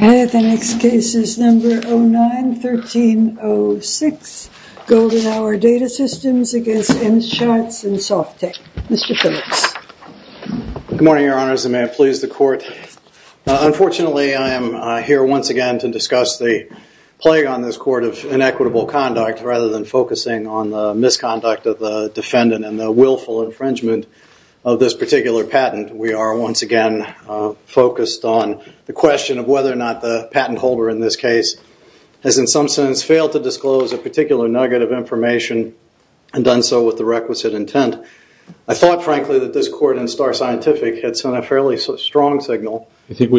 09-1306 Good morning, Your Honors, and may it please the Court, unfortunately I am here once again to discuss the plague on this Court of inequitable conduct rather than focusing on the misconduct of the defendant and the willful infringement of this particular patent. We are once again focused on the question of whether or not the patent holder in this Court of Inequitable Conduct has done so with the requisite intent. I thought, frankly, that this Court in Star Scientific had sent a fairly strong signal that it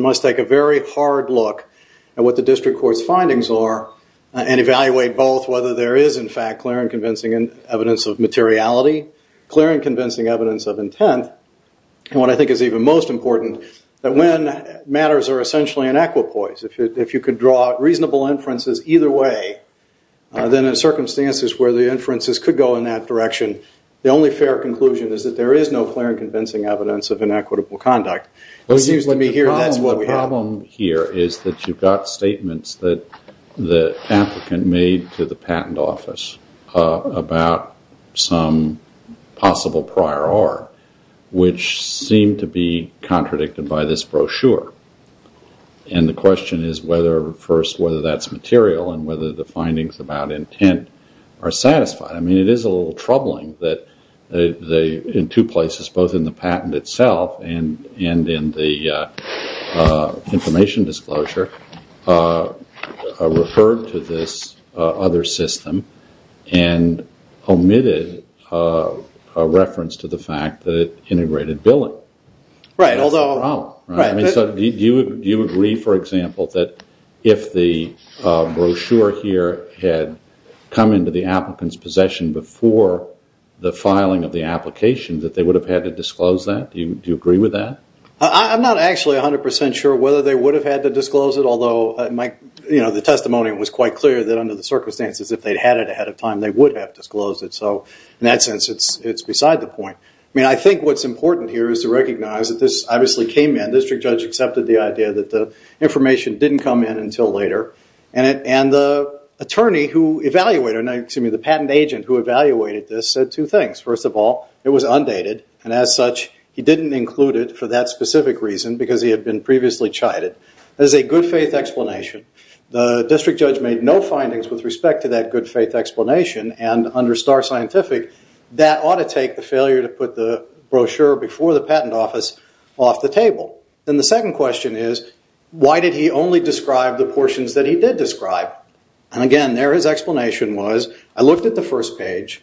must take a very hard look at what the District Court's findings are and evaluate both whether there is in fact clear and convincing evidence of materiality, clear and convincing evidence of intent, and what I think is even most important, that when matters are essentially inequipoise, if you could draw reasonable inferences either way, then in circumstances where the inferences could go in that direction, the only fair conclusion is that there is no clear and convincing evidence of inequitable conduct. The problem here is that you've got statements that the applicant made to the patent office about some possible prior art, which seem to be contradicted by this brochure, and the question is whether that's material and whether the findings about intent are satisfied. I mean, it is a little troubling that in two places, both in the patent itself and in the information disclosure, referred to this other system and omitted a reference to the fact that it integrated billing. Right. Although... That's the problem. Right. Do you agree, for example, that if the brochure here had come into the applicant's possession before the filing of the application, that they would have had to disclose that? Do you agree with that? I'm not actually 100% sure whether they would have had to disclose it, although the testimony was quite clear that under the circumstances, if they'd had it ahead of time, they would have disclosed it. So in that sense, it's beside the point. I mean, I think what's important here is to recognize that this obviously came in. The district judge accepted the idea that the information didn't come in until later, and the attorney who evaluated it, excuse me, the patent agent who evaluated this said two things. First of all, it was undated, and as such, he didn't include it for that specific reason because he had been previously chided. There's a good faith explanation. The district judge made no findings with respect to that good faith explanation, and under our scientific, that ought to take the failure to put the brochure before the patent office off the table. And the second question is, why did he only describe the portions that he did describe? And again, there his explanation was, I looked at the first page,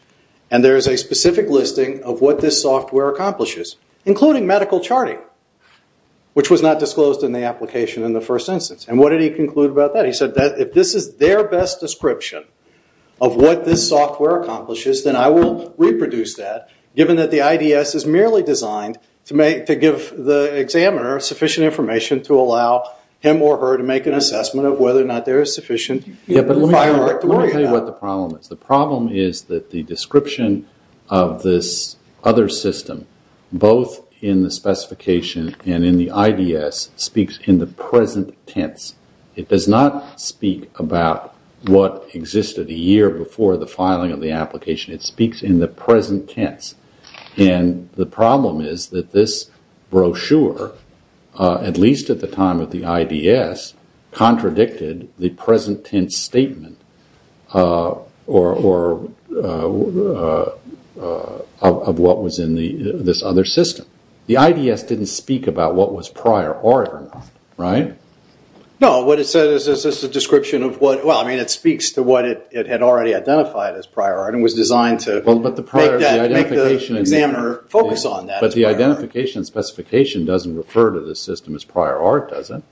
and there's a specific listing of what this software accomplishes, including medical charting, which was not disclosed in the application in the first instance. And what did he conclude about that? He said that if this is their best description of what this software accomplishes, then I will reproduce that, given that the IDS is merely designed to give the examiner sufficient information to allow him or her to make an assessment of whether or not there is sufficient firework to worry about. Yeah, but let me tell you what the problem is. The problem is that the description of this other system, both in the specification and in the IDS, speaks in the present tense. It does not speak about what existed a year before the filing of the application. It speaks in the present tense. And the problem is that this brochure, at least at the time of the IDS, contradicted the present tense statement of what was in this other system. The IDS didn't speak about what was prior or not, right? No, what it said is that this is a description of what, well, I mean, it speaks to what it had already identified as prior art and was designed to make the examiner focus on that. But the identification specification doesn't refer to this system as prior art, does it?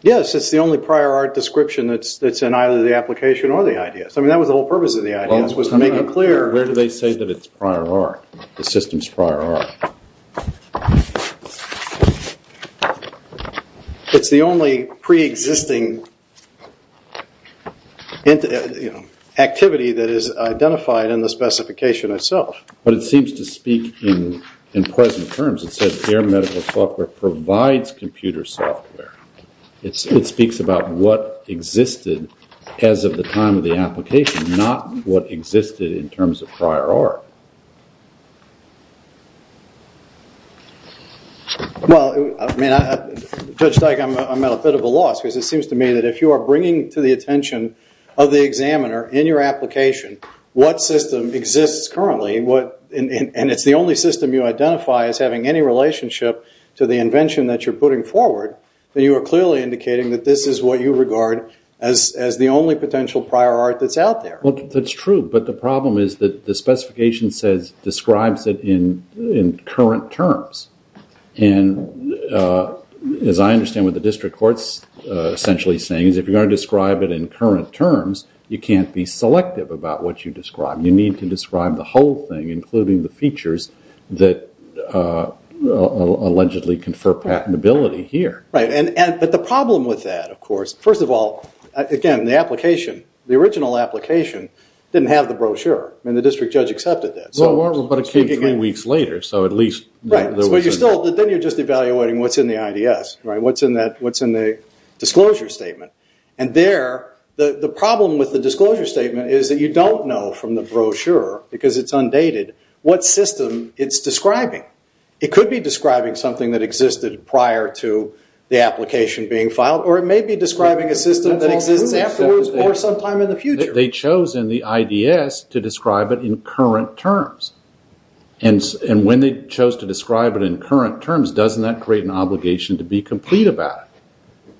Yes, it's the only prior art description that's in either the application or the IDS. I mean, that was the whole purpose of the IDS, was to make it clear. Where do they say that it's prior art, the system's prior art? It's the only pre-existing activity that is identified in the specification itself. But it seems to speak in present terms. It says their medical software provides computer software. It speaks about what existed as of the time of the application, not what existed in terms of prior art. Well, I mean, Judge Dyke, I'm at a bit of a loss, because it seems to me that if you are bringing to the attention of the examiner in your application what system exists currently, and it's the only system you identify as having any relationship to the invention that you're putting forward, then you are clearly indicating that this is what you regard as the only potential prior art that's out there. Well, that's true. But the problem is that the specification describes it in current terms. And as I understand what the district court's essentially saying, is if you're going to describe it in current terms, you can't be selective about what you describe. You need to describe the whole thing, including the features that allegedly confer patentability here. Right. But the problem with that, of course, first of all, again, the application, the original application, didn't have the brochure, and the district judge accepted that. Well, but it came three weeks later, so at least there wasn't- Right. But then you're just evaluating what's in the IDS, what's in the disclosure statement. And there, the problem with the disclosure statement is that you don't know from the brochure, because it's undated, what system it's describing. It could be describing something that existed prior to the application being filed, or it they chose in the IDS to describe it in current terms. And when they chose to describe it in current terms, doesn't that create an obligation to be complete about it?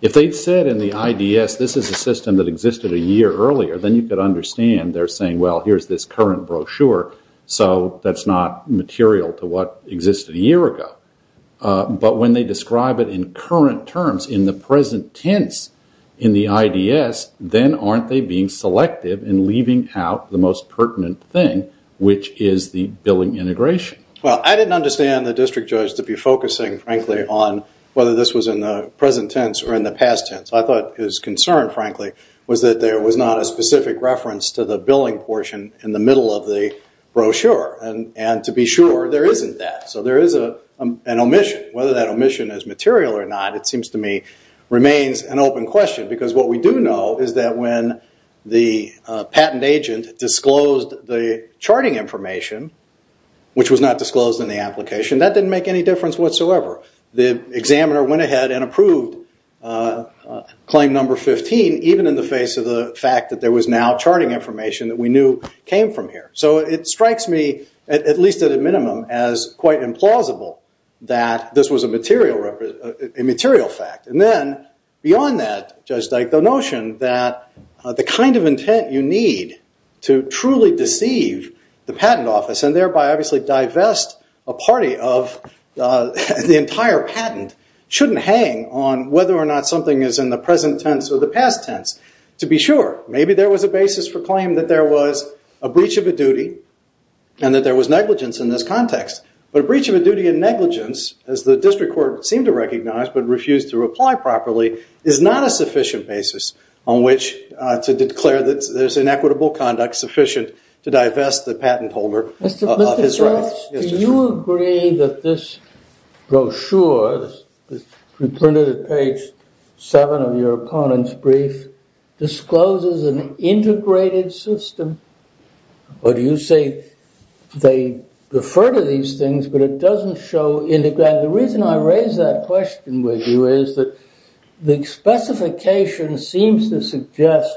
If they said in the IDS, this is a system that existed a year earlier, then you could understand they're saying, well, here's this current brochure, so that's not material to what existed a year ago. But when they describe it in current terms, in the present tense, in the IDS, then aren't they being selective in leaving out the most pertinent thing, which is the billing integration? Well, I didn't understand the district judge to be focusing, frankly, on whether this was in the present tense or in the past tense. I thought his concern, frankly, was that there was not a specific reference to the billing portion in the middle of the brochure. And to be sure, there isn't that. So there is an omission. Whether that omission is material or not, it seems to me, remains an open question. Because what we do know is that when the patent agent disclosed the charting information, which was not disclosed in the application, that didn't make any difference whatsoever. The examiner went ahead and approved claim number 15, even in the face of the fact that there was now charting information that we knew came from here. So it strikes me, at least at a minimum, as quite implausible that this was a material fact. And then, beyond that, Judge Dyke, the notion that the kind of intent you need to truly deceive the patent office, and thereby obviously divest a party of the entire patent, shouldn't hang on whether or not something is in the present tense or the past tense. To be sure, maybe there was a basis for claim that there was a breach of a duty and that there was negligence in this context. But a breach of a duty and negligence, as the district court seemed to recognize but refused to reply properly, is not a sufficient basis on which to declare that there's inequitable conduct sufficient to divest the patent holder of his right. Mr. Charles, do you agree that this brochure, printed at page 7 of your opponent's brief, discloses an integrated system? Or do you say they refer to these things, but it doesn't show integrated? The reason I raise that question with you is that the specification seems to suggest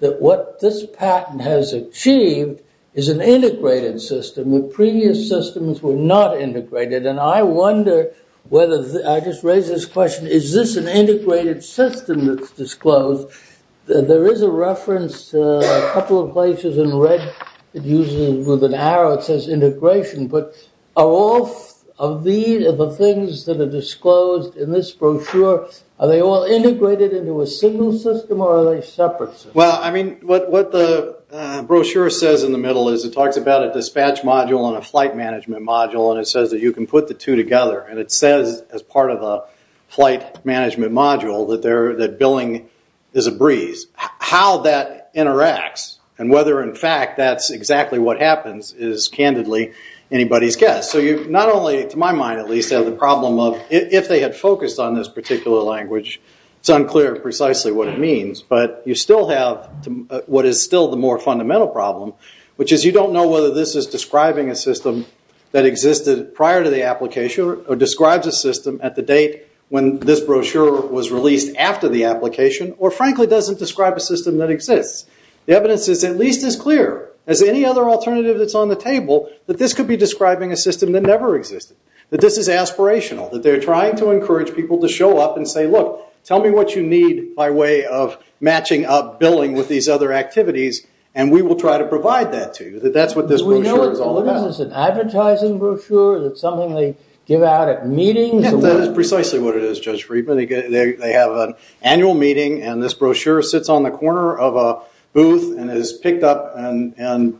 that what this patent has achieved is an integrated system. The previous systems were not integrated. And I wonder whether, I just raised this question, is this an integrated system that's disclosed? There is a reference, a couple of places in red, it uses, with an arrow, it says integration. But are all of these, of the things that are disclosed in this brochure, are they all integrated into a single system or are they separate systems? Well, I mean, what the brochure says in the middle is it talks about a dispatch module and a flight management module and it says that you can put the two together. And it says, as part of a flight management module, that billing is a breeze. How that interacts and whether, in fact, that's exactly what happens is, candidly, anybody's guess. So you not only, to my mind at least, have the problem of, if they had focused on this particular language, it's unclear precisely what it means. But you still have what is still the more fundamental problem, which is you don't know whether this is describing a system that existed prior to the application or describes a system at the date when this brochure was released after the application or, frankly, doesn't describe a system that exists. The evidence is at least as clear as any other alternative that's on the table that this could be describing a system that never existed, that this is aspirational, that they're trying to encourage people to show up and say, look, tell me what you need by way of matching up billing with these other activities and we will try to provide that to you, that that's what this brochure is all about. We know what it is, it's an advertising brochure, it's something they give out at meetings. Yes, that is precisely what it is, Judge Friedman. They have an annual meeting and this brochure sits on the corner of a booth and is picked up according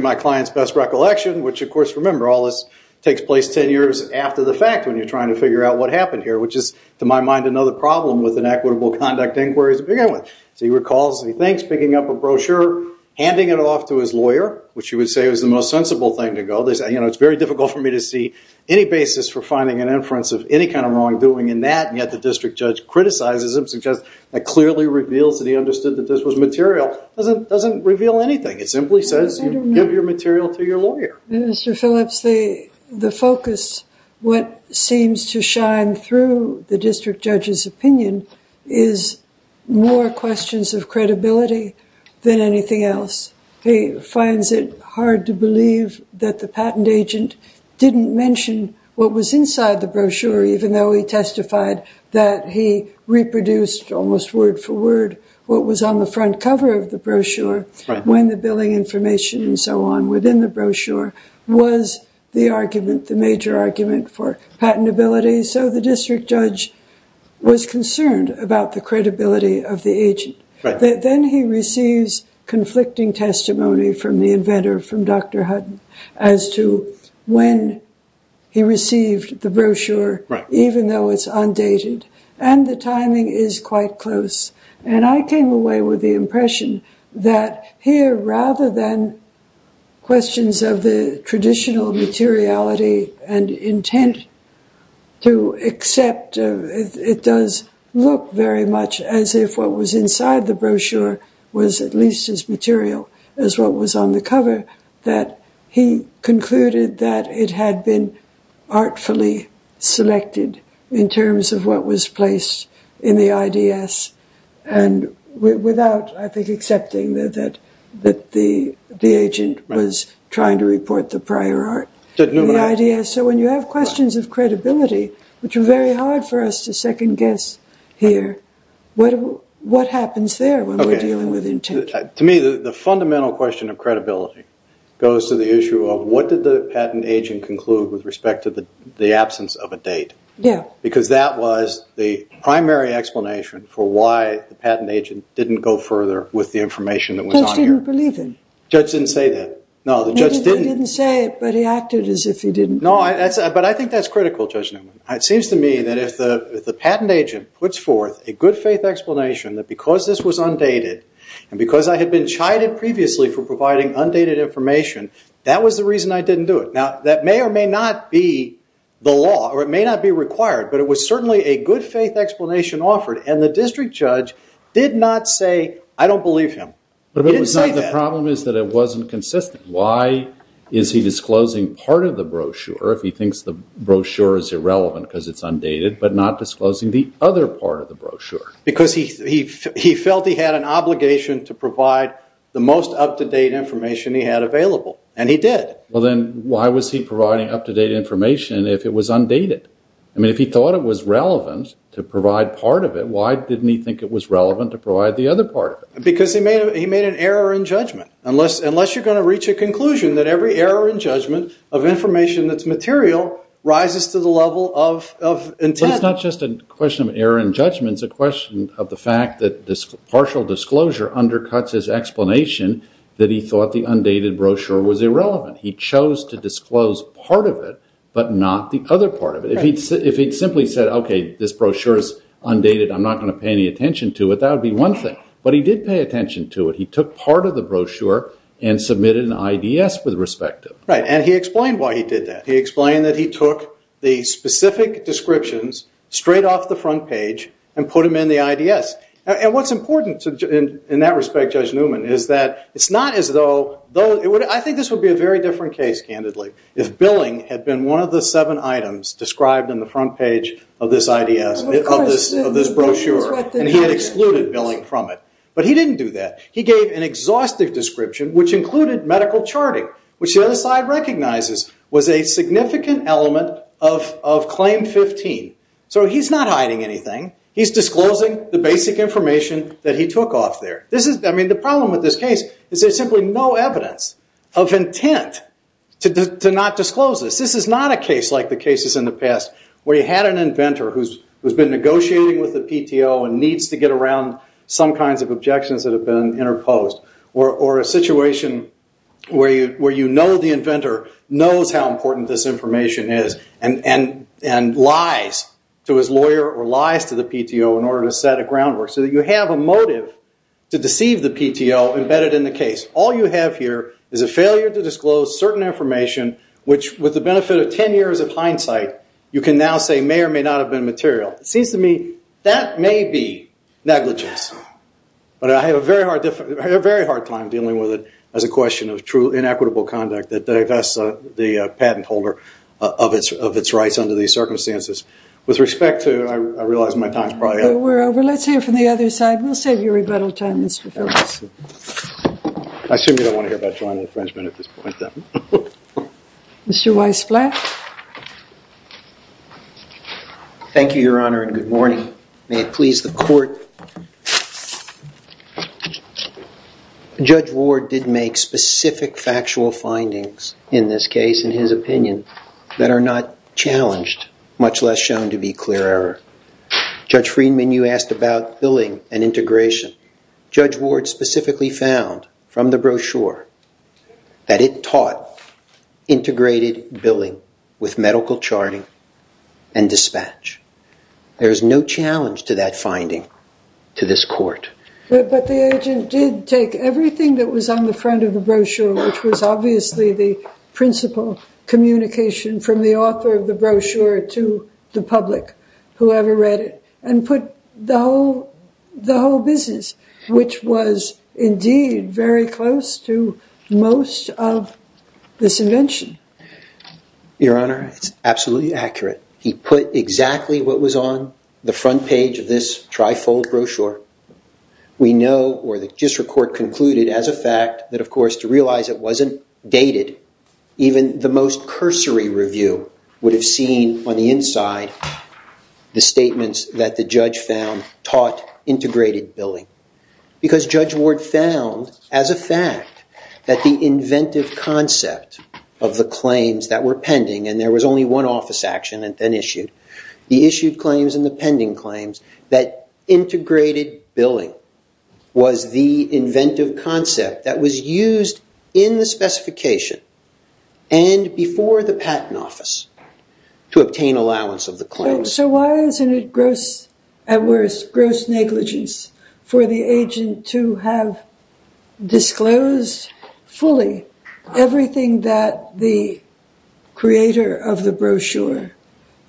to my client's best recollection, which, of course, remember all this takes place 10 years after the fact when you're trying to figure out what happened here, which is, to my mind, another problem with inequitable conduct inquiries to begin with. So he recalls, he thinks, picking up a brochure, handing it off to his lawyer, which you would say is the most sensible thing to go. They say, you know, it's very difficult for me to see any basis for finding an inference of any kind of wrongdoing in that, and yet the district judge criticizes him, suggests that clearly reveals that he understood that this was material. Doesn't reveal anything. It simply says give your material to your lawyer. Mr. Phillips, the focus, what seems to shine through the district judge's opinion is more questions of credibility than anything else. He finds it hard to believe that the patent agent didn't mention what was inside the brochure even though he testified that he reproduced almost word for word what was on the front cover of the brochure when the billing information and so on within the brochure was the argument, the major argument for patentability. So the district judge was concerned about the credibility of the agent. Then he receives conflicting testimony from the inventor, from Dr. Hutton, as to when he received the brochure even though it's undated. And the timing is quite close. And I came away with the impression that here rather than questions of the traditional materiality and intent to accept, it does look very much as if what was inside the brochure was at least as material as what was on the cover, that he concluded that it had been artfully selected in terms of what was placed in the IDS and without, I think, accepting that the agent was trying to report the prior art, the IDS. So when you have questions of credibility, which are very hard for us to second guess here, what happens there when we're dealing with intent? To me, the fundamental question of credibility goes to the issue of what did the patent agent conclude with respect to the absence of a date? Yeah. Because that was the primary explanation for why the patent agent didn't go further with the information that was on here. The judge didn't believe him. Judge didn't say that. No, the judge didn't. Maybe they didn't say it, but he acted as if he didn't. No, but I think that's critical, Judge Newman. It seems to me that if the patent agent puts forth a good faith explanation that because this was undated, and because I had been chided previously for providing undated information, that was the reason I didn't do it. Now, that may or may not be the law, or it may not be required, but it was certainly a good faith explanation offered, and the district judge did not say, I don't believe him. He didn't say that. The problem is that it wasn't consistent. Why is he disclosing part of the brochure if he thinks the brochure is irrelevant because it's undated, but not disclosing the other part of the brochure? Because he felt he had an obligation to provide the most up-to-date information he had available, and he did. Well, then why was he providing up-to-date information if it was undated? I mean, if he thought it was relevant to provide part of it, why didn't he think it was relevant to provide the other part of it? Because he made an error in judgment. Unless you're going to reach a conclusion that every error in judgment of information that's material rises to the level of intent. It's not just a question of error in judgment. It's a question of the fact that partial disclosure undercuts his explanation that he thought the undated brochure was irrelevant. He chose to disclose part of it, but not the other part of it. If he'd simply said, okay, this brochure is undated. I'm not going to pay any attention to it. That would be one thing, but he did pay attention to it. He took part of the brochure and submitted an IDS with respect to it. Right, and he explained why he did that. He explained that he took the specific descriptions straight off the front page and put them in the IDS. And what's important in that respect, Judge Newman, is that it's not as though, I think this would be a very different case, candidly, if billing had been one of the seven items described in the front page of this IDS, of this brochure, and he had excluded billing from it. But he didn't do that. He gave an exhaustive description, which included medical charting, which the other side recognizes was a significant element of Claim 15. So he's not hiding anything. He's disclosing the basic information that he took off there. This is, I mean, the problem with this case is there's simply no evidence of intent to not disclose this. This is not a case like the cases in the past where you had an inventor who's been negotiating with the PTO and needs to get around some kinds of objections that have been interposed, or a situation where you know the inventor knows how important this information is and lies to his lawyer or lies to the PTO in order to set a groundwork, so that you have a motive to deceive the PTO embedded in the case. All you have here is a failure to disclose certain information, which with the benefit of 10 years of hindsight, you can now say may or may not have been material. It seems to me that may be negligence. But I have a very hard time dealing with it as a question of true inequitable conduct that divests the patent holder of its rights under these circumstances. With respect to, I realize my time's probably up. We're over. Let's hear from the other side. We'll save you rebuttal time, Mr. Phillips. I assume you don't want to hear about joint infringement at this point, then. Mr. Weiss-Flatt. Thank you, Your Honor, and good morning. May it please the court. Judge Ward did make specific factual findings in this case, in his opinion, that are not challenged, much less shown to be clear error. Judge Friedman, you asked about billing and integration. Judge Ward specifically found from the brochure that it taught integrated billing with medical charting and dispatch. There is no challenge to that finding to this court. But the agent did take everything that was on the front of the brochure, which was obviously the principal communication from the author of the brochure to the public, whoever read it, and put the whole business, which was indeed very close to most of this invention. Your Honor, it's absolutely accurate. He put exactly what was on the front page of this trifold brochure. We know, or the district court concluded as a fact, that of course, to realize it wasn't dated, even the most cursory review would have seen on the inside the statements that the judge found taught integrated billing. Because Judge Ward found, as a fact, that the inventive concept of the claims that were pending, and there was only one office action and then issued, the issued claims and the pending claims, that integrated billing was the inventive concept that was used in the specification and before the patent office to obtain allowance of the claims. So why isn't it gross, at worst, gross negligence for the agent to have disclosed fully everything that the creator of the brochure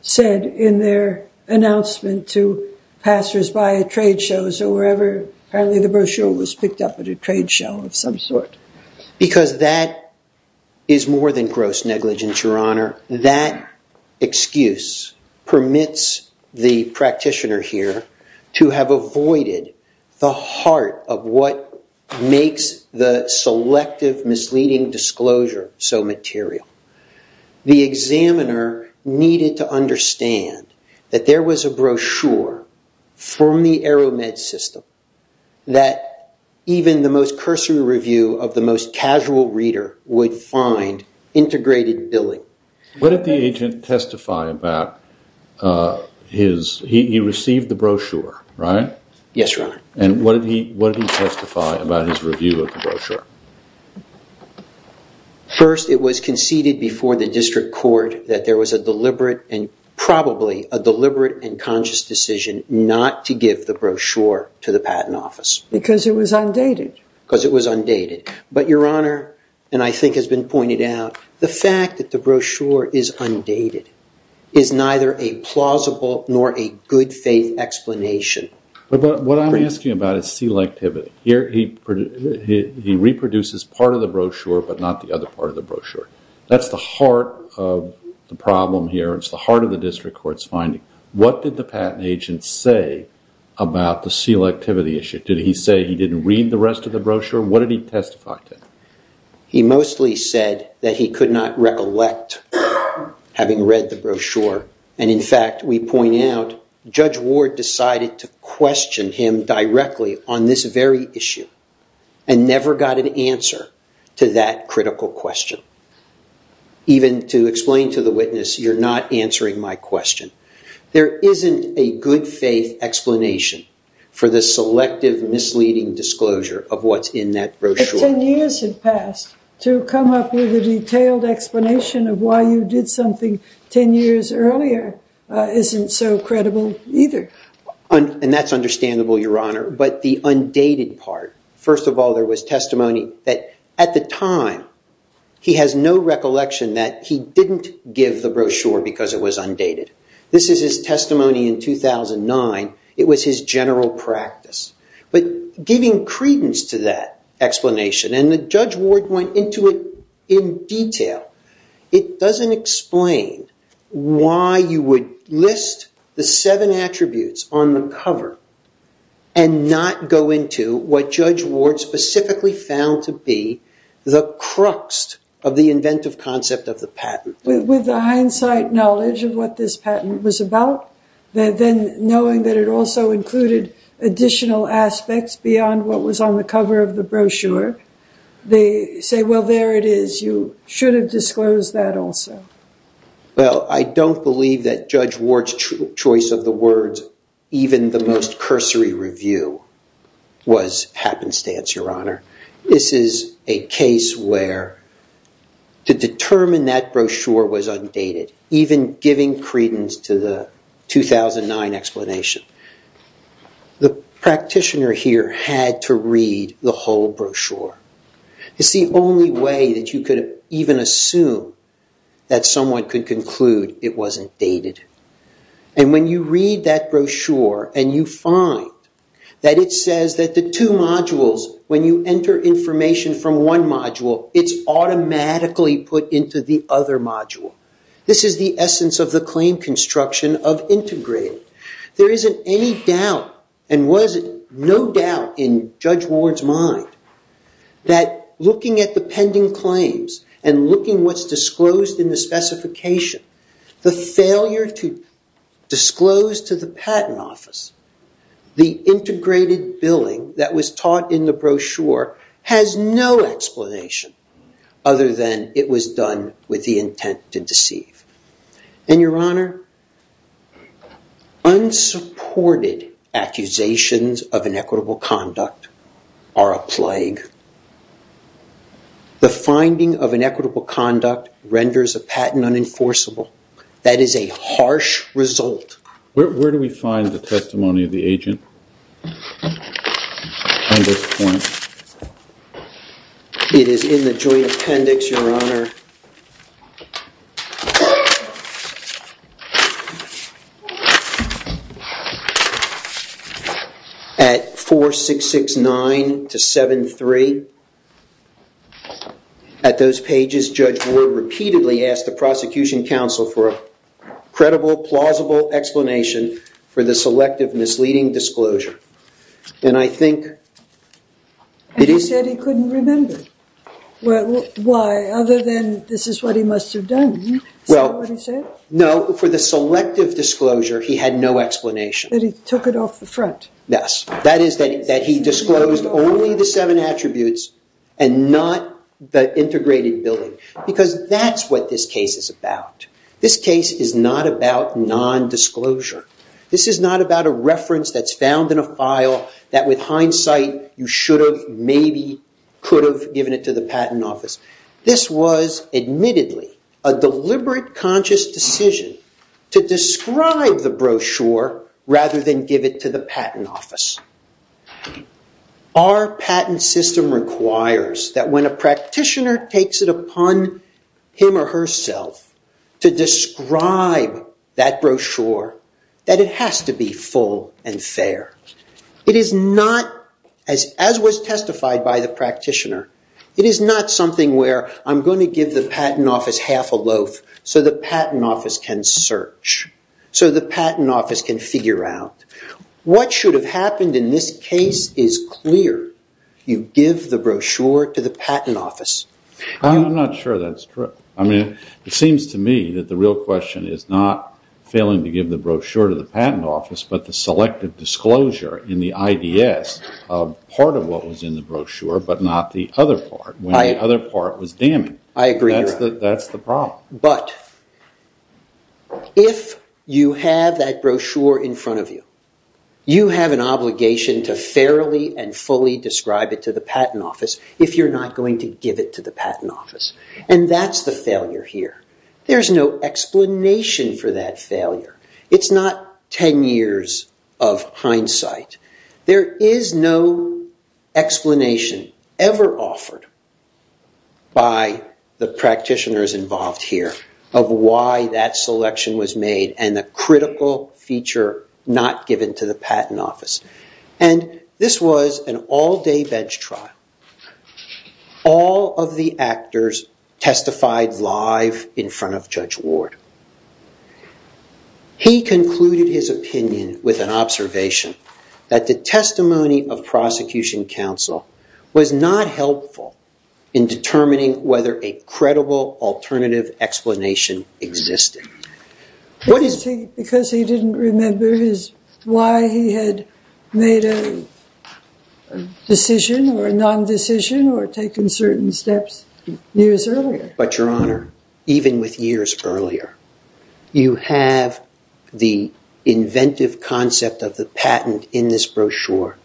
said in their announcement to passers-by at trade shows or wherever apparently the brochure was picked up at a trade show of some sort? Because that is more than gross negligence, Your Honor. That excuse permits the practitioner here to have avoided the heart of what makes the selective misleading disclosure so material. The examiner needed to understand that there was a brochure from the ArrowMed system that even the most cursory review of the most casual reader would find integrated billing. What did the agent testify about his... He received the brochure, right? Yes, Your Honor. And what did he testify about his review of the brochure? First, it was conceded before the district court that there was a deliberate and probably a deliberate and conscious decision not to give the brochure to the patent office. Because it was undated. Because it was undated. But Your Honor, and I think has been pointed out, the fact that the brochure is undated is neither a plausible nor a good faith explanation. But what I'm asking about is selectivity. Here he reproduces part of the brochure, but not the other part of the brochure. That's the heart of the problem here. It's the heart of the district court's finding. What did the patent agent say about the selectivity issue? Did he say he didn't read the rest of the brochure? What did he testify to? He mostly said that he could not recollect having read the brochure. And in fact, we point out, Judge Ward decided to question him directly on this very issue and never got an answer to that critical question. Even to explain to the witness, you're not answering my question. There isn't a good faith explanation for the selective misleading disclosure of what's in that brochure. 10 years had passed. To come up with a detailed explanation of why you did something 10 years earlier isn't so credible either. And that's understandable, Your Honor. But the undated part, first of all, there was testimony that at the time, he has no recollection that he didn't give the brochure because it was undated. This is his testimony in 2009. It was his general practice. But giving credence to that explanation, and Judge Ward went into it in detail, it doesn't explain why you would list the seven attributes on the cover and not go into what Judge Ward specifically found to be the crux of the inventive concept of the patent. With the hindsight knowledge of what this patent was about, then knowing that it also included additional aspects beyond what was on the cover of the brochure, they say, well, there it is. You should have disclosed that also. Well, I don't believe that Judge Ward's choice of the words, even the most cursory review, was happenstance, Your Honor. This is a case where to determine that brochure was undated, even giving credence to the 2009 explanation. The practitioner here had to read the whole brochure. It's the only way that you could even assume that someone could conclude it wasn't dated. And when you read that brochure, and you find that it says that the two modules, when you enter information from one module, it's automatically put into the other module. This is the essence of the claim construction of integrated. There isn't any doubt, and was it no doubt in Judge Ward's mind, that looking at the pending claims and looking what's disclosed in the specification, the failure to disclose to the patent office the integrated billing that was taught in the brochure has no explanation other than it was done with the intent to deceive. And Your Honor, unsupported accusations of inequitable conduct are a plague. The finding of inequitable conduct renders a patent unenforceable. That is a harsh result. Where do we find the testimony of the agent on this point? It is in the joint appendix, Your Honor, at 4669 to 7-3. At those pages, Judge Ward repeatedly asked the prosecution counsel for a credible, plausible explanation for the selective, misleading disclosure. And I think it is... And he said he couldn't remember. Well, why? Other than this is what he must have done, is that what he said? No, for the selective disclosure, he had no explanation. That he took it off the front. Yes, that is that he disclosed only the seven attributes and not the integrated billing, because that's what this case is about. This case is not about non-disclosure. This is not about a reference that's found in a file that, with hindsight, you should have, maybe, could have given it to the patent office. This was, admittedly, a deliberate, conscious decision to describe the brochure rather than give it to the patent office. Our patent system requires that when a practitioner takes it that it has to be full and fair. It is not, as was testified by the practitioner, it is not something where I'm going to give the patent office half a loaf so the patent office can search, so the patent office can figure out. What should have happened in this case is clear. You give the brochure to the patent office. I'm not sure that's true. I mean, it seems to me that the real question is not failing to give the brochure to the patent office, but the selective disclosure in the IDS of part of what was in the brochure, but not the other part, when the other part was damning. I agree. That's the problem. But if you have that brochure in front of you, you have an obligation to fairly and fully describe it to the patent office if you're not going to give it to the patent office, and that's the failure here. There's no explanation for that failure. It's not 10 years of hindsight. There is no explanation ever offered by the practitioners involved here of why that selection was made and the critical feature not given to the patent office. And this was an all-day bench trial. All of the actors testified live in front of Judge Ward. He concluded his opinion with an observation that the testimony of prosecution counsel was not helpful in determining whether a credible alternative explanation existed. Because he didn't remember why he had made a decision or a non-decision or taken certain steps years earlier. But, Your Honor, even with years earlier, you have the inventive concept of the patent in this brochure,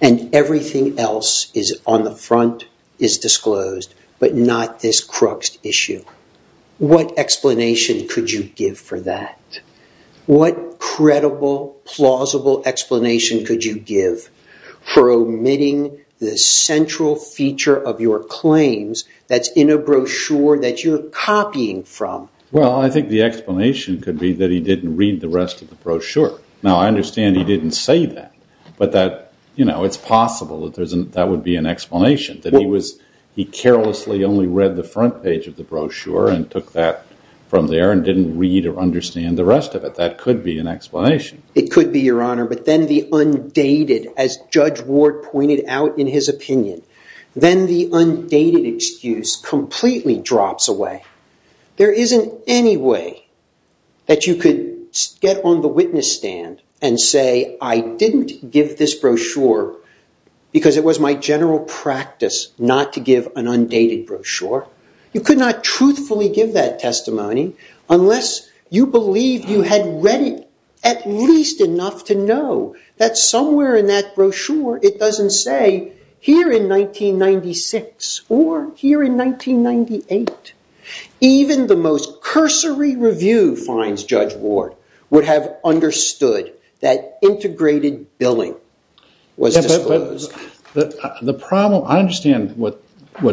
and everything else on the front is disclosed, but not this crux issue. What explanation could you give for that? What credible, plausible explanation could you give for omitting the central feature of your claims that's in a brochure that you're copying from? Well, I think the explanation could be that he didn't read the rest of the brochure. Now, I understand he didn't say that, but it's possible that that would be an explanation, that he carelessly only read the front page of the brochure and took that from there and didn't read or understand the rest of it. That could be an explanation. It could be, Your Honor, but then the undated, as Judge Ward pointed out in his opinion, then the undated excuse completely drops away. There isn't any way that you could get on the witness stand and say, I didn't give this brochure because it was my general practice not to give an undated brochure. You could not truthfully give that testimony unless you believed you had read it at least enough to know that somewhere in that brochure, it doesn't say, here in 1996 or here in 1998. Even the most cursory review, finds Judge Ward, would have understood that integrated billing was disclosed. The problem, I understand what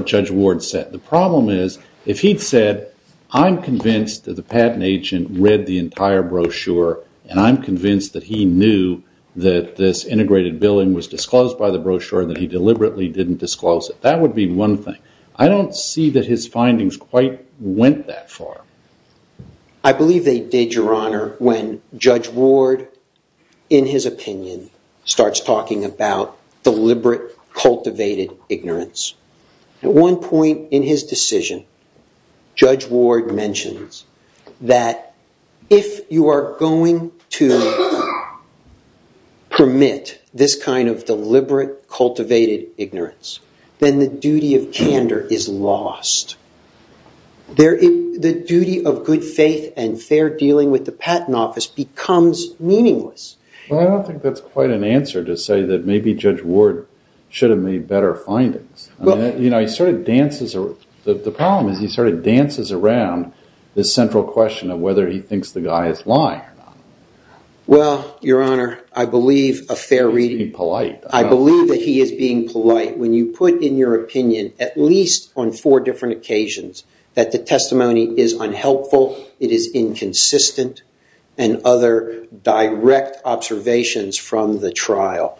Judge Ward said. The problem is, if he'd said, I'm convinced that the patent agent read the entire brochure and I'm convinced that he knew that this integrated billing was disclosed by the brochure and that he deliberately didn't disclose it, that would be one thing. I don't see that his findings quite went that far. I believe they did, Your Honor, when Judge Ward, in his opinion, starts talking about deliberate cultivated ignorance. At one point in his decision, Judge Ward mentions that if you are going to permit this kind of deliberate cultivated ignorance, then the duty of candor is lost. The duty of good faith and fair dealing with the patent office becomes meaningless. I don't think that's quite an answer to say that maybe Judge Ward should have made better findings. The problem is he sort of dances around this central question of whether he thinks the guy is lying or not. Well, Your Honor, I believe a fair reading... He's being polite. I believe that he is being polite when you put in your opinion, at least on four different occasions, that the testimony is unhelpful, it is inconsistent, and other direct observations from the trial.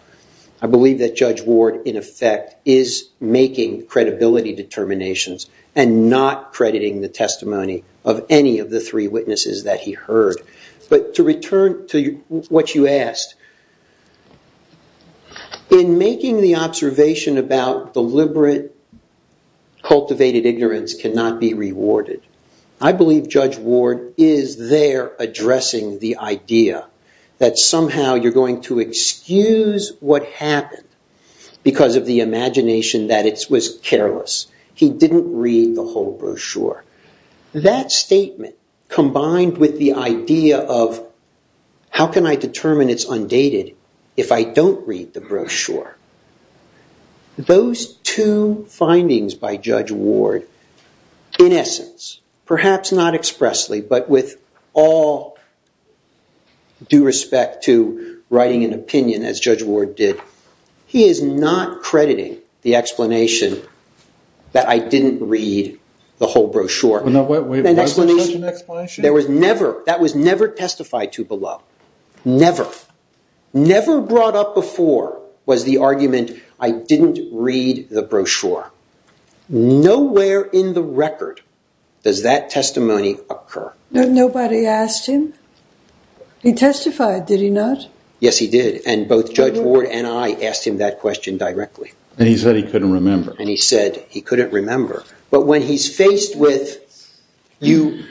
I believe that Judge Ward, in effect, is making credibility determinations and not crediting the testimony of any of the three witnesses that he heard. But to return to what you asked, in making the observation about deliberate cultivated ignorance I believe Judge Ward is there addressing the idea that somehow you're going to excuse what happened because of the imagination that it was careless. He didn't read the whole brochure. That statement, combined with the idea of how can I determine it's undated if I don't read the brochure, those two findings by Judge Ward, in essence, perhaps not expressly, but with all due respect to writing an opinion, as Judge Ward did, he is not crediting the explanation that I didn't read the whole brochure. Well, now, wait, was there such an explanation? There was never. That was never testified to below. Never. Never brought up before was the argument I didn't read the brochure. Nowhere in the record does that testimony occur. Nobody asked him? He testified, did he not? Yes, he did. And both Judge Ward and I asked him that question directly. And he said he couldn't remember. And he said he couldn't remember. But when he's faced with you...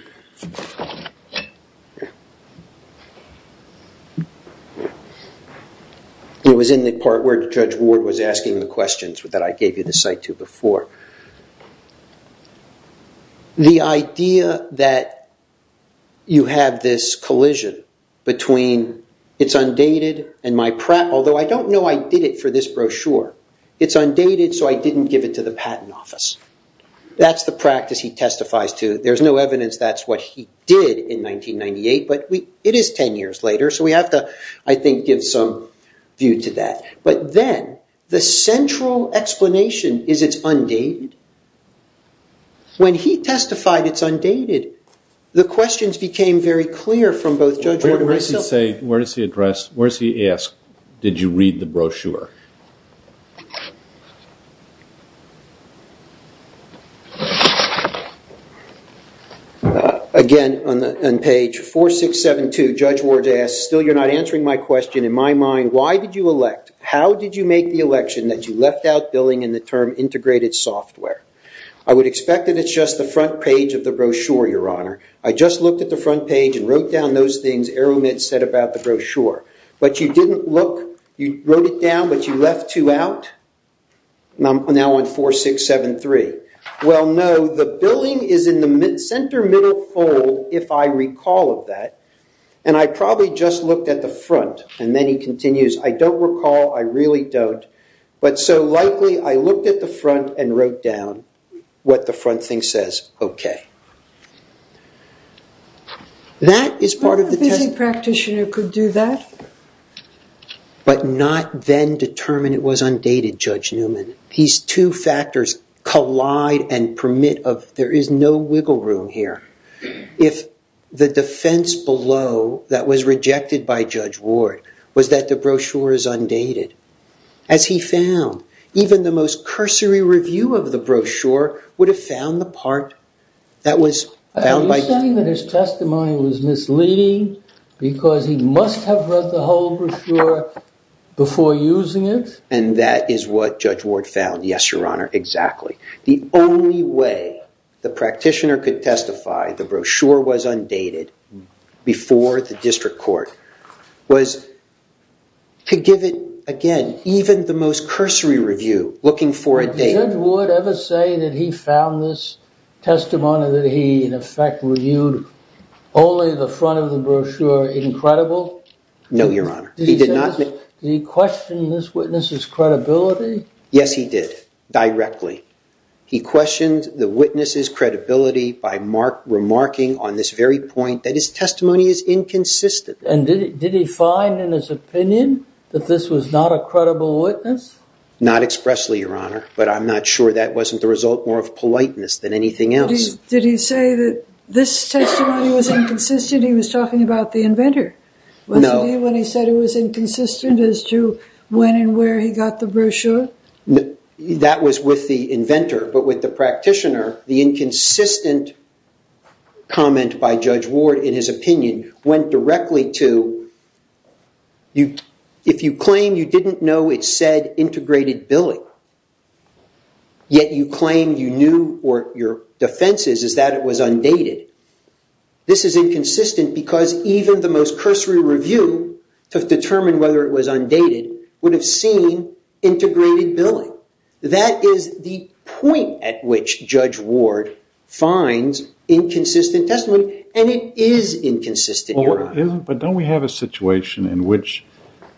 It was in the part where Judge Ward was asking the questions that I gave you the cite to before. The idea that you have this collision between it's undated and my... Although I don't know I did it for this brochure. It's undated, so I didn't give it to the Patent Office. That's the practice he testifies to. There's no evidence that's what he did in 1998. But it is 10 years later. So we have to, I think, give some view to that. But then the central explanation is it's undated. When he testified it's undated, the questions became very clear from both Judge Ward and myself. Where does he ask, did you read the brochure? Again, on page 4672, Judge Ward asks, still you're not answering my question. In my mind, why did you elect? How did you make the election that you left out billing in the term integrated software? I would expect that it's just the front page of the brochure, Your Honor. I just looked at the front page and wrote down those things Arrowmitt said about the brochure. But you didn't look. You wrote it down, but you left two out. Now on 4673. Well, no, the billing is in the center middle fold, if I recall of that. And I probably just looked at the front. And then he continues, I don't recall. I really don't. But so likely, I looked at the front and wrote down what the front thing says. OK. That is part of the testimony. A visiting practitioner could do that. But not then determine it was undated, Judge Newman. These two factors collide and permit of, there is no wiggle room here. If the defense below that was rejected by Judge Ward was that the brochure is undated, as he found, even the most cursory review of the brochure would have found the part that was found by Judge Ward. Are you saying that his testimony was misleading because he must have read the whole brochure before using it? And that is what Judge Ward found. Yes, Your Honor. Exactly. The only way the practitioner could testify the brochure was undated before the district court was to give it, again, even the most cursory review, looking for a date. Did Judge Ward ever say that he found this testimony that he, in effect, reviewed only the front of the brochure incredible? No, Your Honor. He did not. Did he question this witness's credibility? Yes, he did, directly. He questioned the witness's credibility by remarking on this very point that his testimony is inconsistent. And did he find, in his opinion, that this was not a credible witness? Not expressly, Your Honor, but I'm not sure that wasn't the result more of politeness than anything else. Did he say that this testimony was inconsistent? He was talking about the inventor, wasn't he, when he said it was inconsistent as to when and where he That was with the inventor. But with the practitioner, the inconsistent comment by Judge Ward, in his opinion, went directly to, if you claim you didn't know it said integrated billing, yet you claim you knew or your defense is that it was undated, this is inconsistent because even the most cursory review to determine whether it was undated would have seen integrated billing. That is the point at which Judge Ward finds inconsistent testimony. And it is inconsistent, Your Honor. But don't we have a situation in which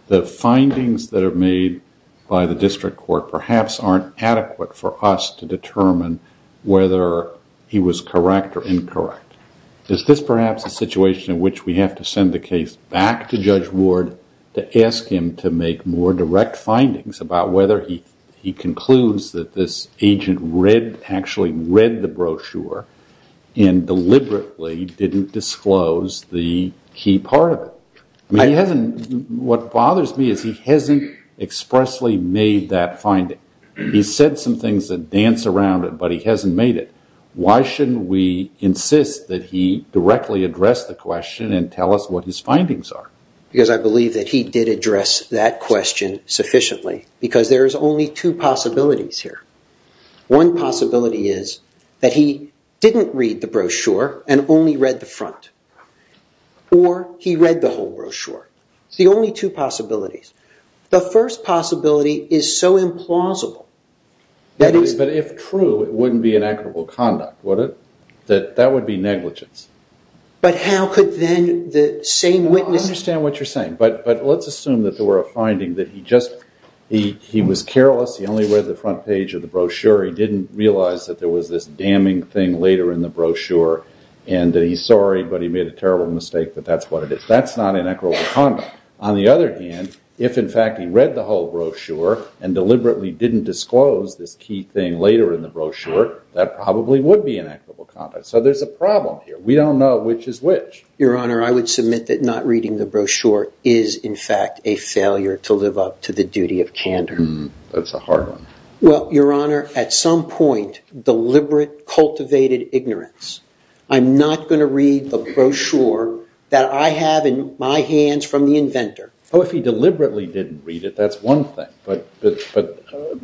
the findings that are made by the district court perhaps aren't adequate for us to determine whether he was correct or incorrect? Is this perhaps a situation in which we have to send the case back to Judge Ward to ask him to make more direct findings about whether he concludes that this agent actually read the brochure and deliberately didn't disclose the key part of it? What bothers me is he hasn't expressly made that finding. He said some things that dance around it, but he hasn't made it. Why shouldn't we insist that he directly address the question and tell us what his findings are? Because I believe that he did address that question sufficiently. Because there is only two possibilities here. One possibility is that he didn't read the brochure and only read the front. Or he read the whole brochure. It's the only two possibilities. The first possibility is so implausible that he's- But if true, it wouldn't be inequitable conduct, would it? That would be negligence. But how could then the same witness- I understand what you're saying. But let's assume that there were a finding that he just- he was careless. He only read the front page of the brochure. He didn't realize that there was this damning thing later in the brochure. And that he's sorry, but he made a terrible mistake, but that's what it is. That's not inequitable conduct. On the other hand, if in fact he read the whole brochure and deliberately didn't disclose this key thing later in the brochure, that probably would be inequitable conduct. So there's a problem here. We don't know which is which. Your Honor, I would submit that not reading the brochure is, in fact, a failure to live up to the duty of candor. That's a hard one. Well, Your Honor, at some point, deliberate, cultivated ignorance. I'm not going to read the brochure that I have in my hands from the inventor. Oh, if he deliberately didn't read it, that's one thing. But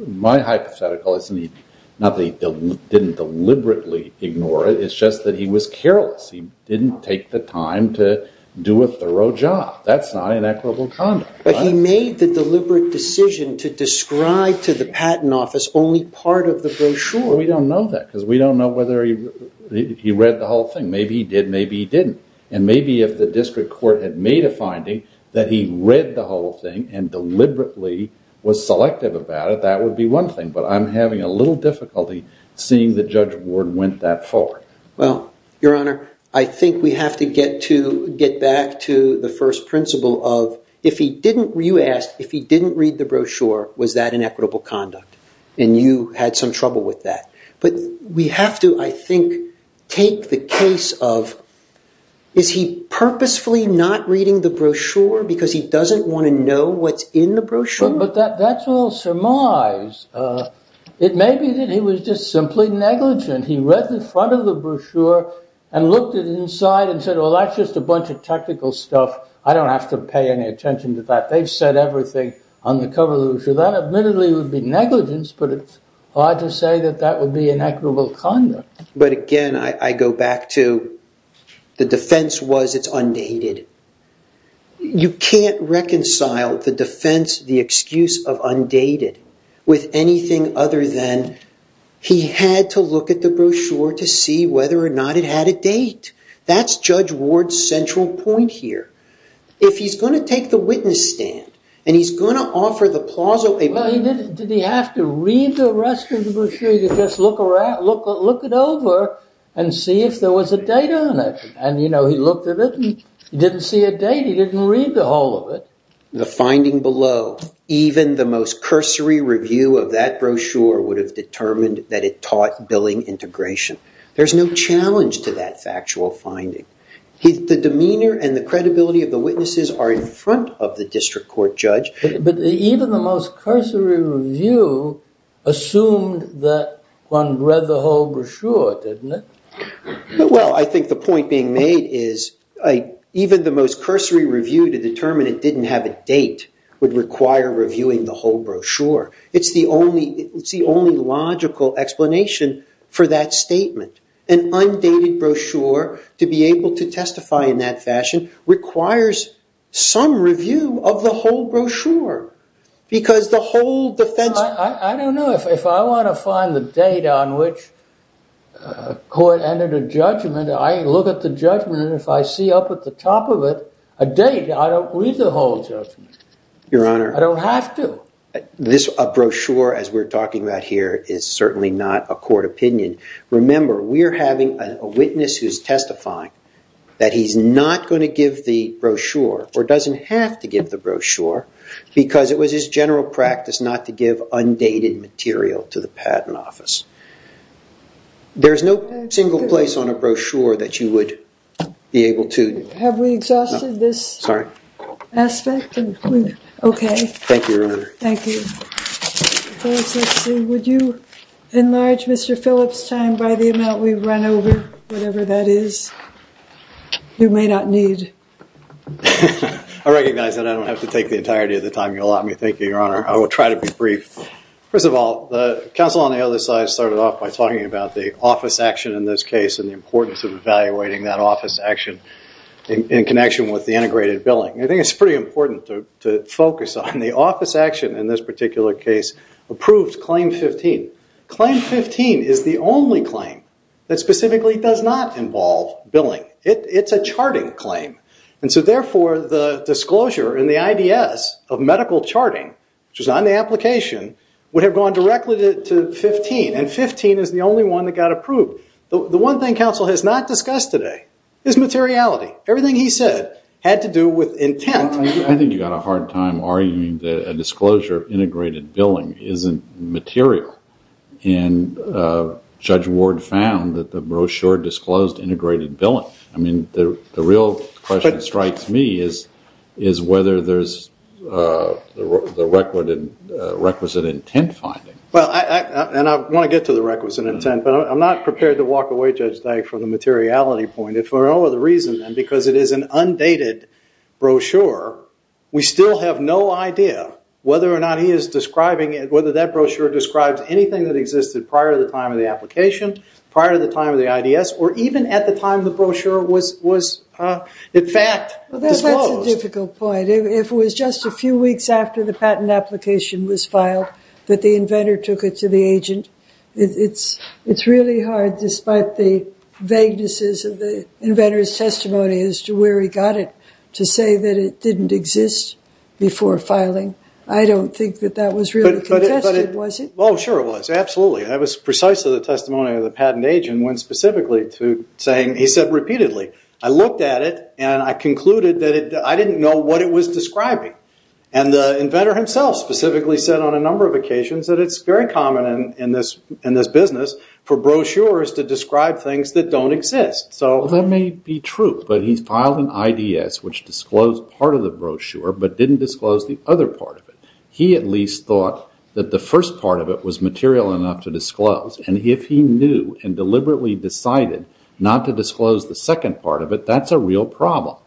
my hypothetical isn't he- not that he didn't deliberately ignore it, it's just that he was careless. He didn't take the time to do a thorough job. That's not inequitable conduct. But he made the deliberate decision to describe to the Patent Office only part of the brochure. We don't know that, because we don't know whether he read the whole thing. Maybe he did, maybe he didn't. And maybe if the district court had made a finding that he read the whole thing and deliberately was selective about it, that would be one thing. But I'm having a little difficulty seeing that Judge Ward went that far. Well, Your Honor, I think we have to get back to the first principle of, if he didn't- you asked, if he didn't read the brochure, was that inequitable conduct? And you had some trouble with that. But we have to, I think, take the case of, is he purposefully not reading the brochure because he doesn't want to know what's in the brochure? But that's all surmise. It may be that he was just simply negligent. He read the front of the brochure and looked at it inside and said, well, that's just a bunch of technical stuff. I don't have to pay any attention to that. They've said everything on the cover of the brochure. That admittedly would be negligence, but it's hard to say that that would be inequitable conduct. But again, I go back to, the defense was it's undated. You can't reconcile the defense, the excuse of undated, with anything other than he had to look at the brochure to see whether or not it had a date. That's Judge Ward's central point here. If he's going to take the witness stand and he's going to offer the plaza a- Well, did he have to read the rest of the brochure? He could just look around, look it over, and see if there was a date on it. And he looked at it, and he didn't see a date. He didn't read the whole of it. The finding below, even the most cursory review of that brochure would have determined that it taught billing integration. There's no challenge to that factual finding. The demeanor and the credibility of the witnesses are in front of the district court judge. But even the most cursory review assumed that one read the whole brochure, didn't it? Well, I think the point being made is even the most cursory review to determine it didn't have a date would require reviewing the whole brochure. It's the only logical explanation for that statement. An undated brochure, to be able to testify in that fashion, requires some review of the whole brochure. Because the whole defense- I don't know. If I want to find the date on which a court entered a judgment, I look at the judgment. If I see up at the top of it a date, I don't read the whole judgment. Your Honor. I don't have to. This brochure, as we're talking about here, is certainly not a court opinion. Remember, we're having a witness who's testifying that he's not going to give the brochure, or doesn't have to give the brochure, because it was his general practice not to give undated material to the patent office. There's no single place on a brochure that you would be able to- Have we exhausted this? Aspect? OK. Thank you, Your Honor. Thank you. Would you enlarge Mr. Phillips' time by the amount we've run over, whatever that is? You may not need. I recognize that I don't have to take the entirety of the time you allot me. Thank you, Your Honor. I will try to be brief. First of all, the counsel on the other side started off by talking about the office action in this case, and the importance of evaluating that office action in connection with the integrated billing. I think it's pretty important to focus on the office action in this particular case, approved claim 15. Claim 15 is the only claim that specifically does not involve billing. It's a charting claim. And so therefore, the disclosure in the IDS of medical charting, which was on the application, would have gone directly to 15. And 15 is the only one that got approved. The one thing counsel has not discussed today is materiality. Everything he said had to do with intent. I think you've got a hard time arguing that a disclosure of integrated billing isn't material. And Judge Ward found that the brochure disclosed integrated billing. I mean, the real question that strikes me is whether there's the requisite intent finding. Well, and I want to get to the requisite intent, but I'm not prepared to walk away, Judge Dyke, from the materiality point. If for no other reason than because it is an undated brochure, we still have no idea whether or not he is describing it, whether that brochure describes anything that existed prior to the time of the application, prior to the time of the IDS, or even at the time the brochure was, in fact, disclosed. Well, that's a difficult point. If it was just a few weeks after the patent application was filed that the inventor took it to the agent, it's really hard, despite the vaguenesses of the inventor's testimony as to where he got it, to say that it didn't exist before filing. I don't think that that was really contested, was it? Well, sure it was, absolutely. That was precisely the testimony of the patent agent when specifically to saying, he said repeatedly, I looked at it, and I concluded that I didn't know what it was describing. And the inventor himself specifically said on a number of occasions that it's very common in this business for brochures to describe things that don't exist. So that may be true, but he's filed an IDS which disclosed part of the brochure but didn't disclose the other part of it. He at least thought that the first part of it was material enough to disclose. And if he knew and deliberately decided not to disclose the second part of it, that's a real problem.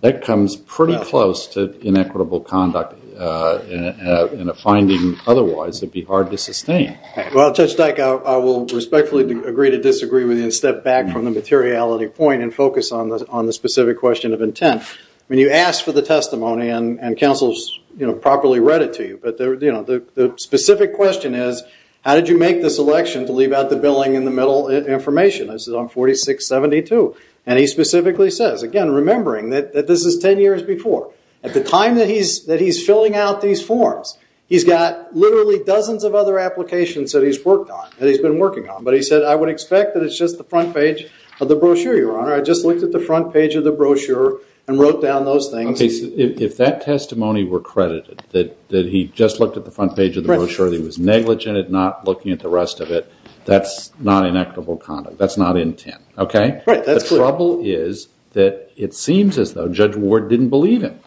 That comes pretty close to inequitable conduct. And a finding otherwise would be hard to sustain. Well, Judge Dyke, I will respectfully agree to disagree with you and step back from the materiality point and focus on the specific question of intent. When you ask for the testimony, and counsel's properly read it to you, but the specific question is, how did you make this election to leave out the billing in the middle information? This is on 4672. And he specifically says, again, remembering that this is 10 years before. At the time that he's filling out these forms, he's got literally dozens of other applications that he's worked on, that he's been working on. But he said, I would expect that it's just the front page of the brochure, Your Honor. I just looked at the front page of the brochure and wrote down those things. If that testimony were credited, that he just looked at the front page of the brochure, that he was negligent at not looking at the rest of it, that's not inequitable conduct. That's not intent. OK? Right. That's true. The trouble is that it seems as though Judge Ward didn't believe him.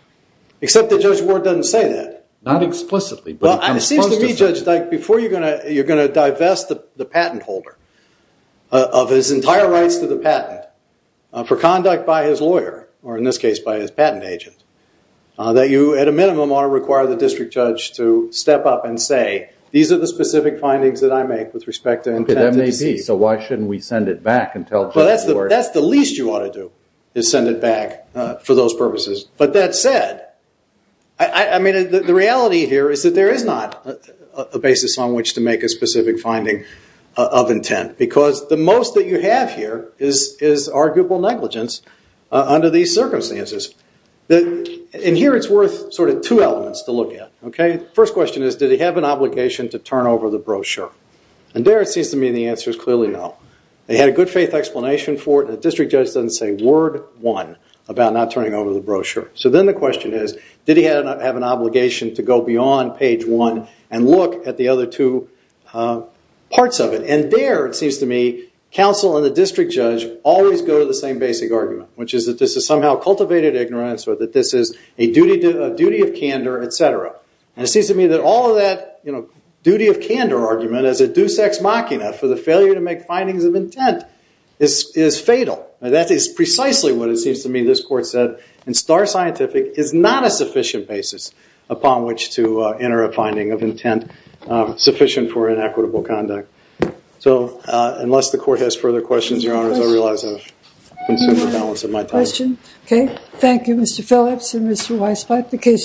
Except that Judge Ward doesn't say that. Not explicitly, but in response to him. Well, it seems to me, Judge, before you're going to divest the patent holder of his entire rights to the patent for conduct by his lawyer, or in this case, by his patent agent, that you, at a minimum, ought to require the district judge to step up and say, these are the specific findings that I make with respect to intended deceased. OK, that may be. So why shouldn't we send it back and tell Judge Ward? Well, that's the least you ought to do, is send it back for those purposes. But that said, I mean, the reality here is that there is not a basis on which to make a specific finding of intent. Because the most that you have here is arguable negligence under these circumstances. And here, it's worth sort of two elements to look at. OK? First question is, did he have an obligation to turn over the brochure? And there, it seems to me, the answer is clearly no. They had a good faith explanation for it, and the district judge doesn't say word one about not turning over the brochure. So then the question is, did he have an obligation to go beyond page one and look at the other two parts of it? And there, it seems to me, counsel and the district judge always go to the same basic argument, which is that this is somehow cultivated ignorance, or that this is a duty of candor, et cetera. And it seems to me that all of that duty of candor argument as a deus ex machina for the failure to make findings of intent is fatal. That is precisely what it seems to me this court said. And star scientific is not a sufficient basis upon which to enter a finding of intent sufficient for inequitable conduct. So unless the court has further questions, your honors, I realize I've consumed the balance of my time. Question? OK. Thank you, Mr. Phillips and Mr. Weisflat.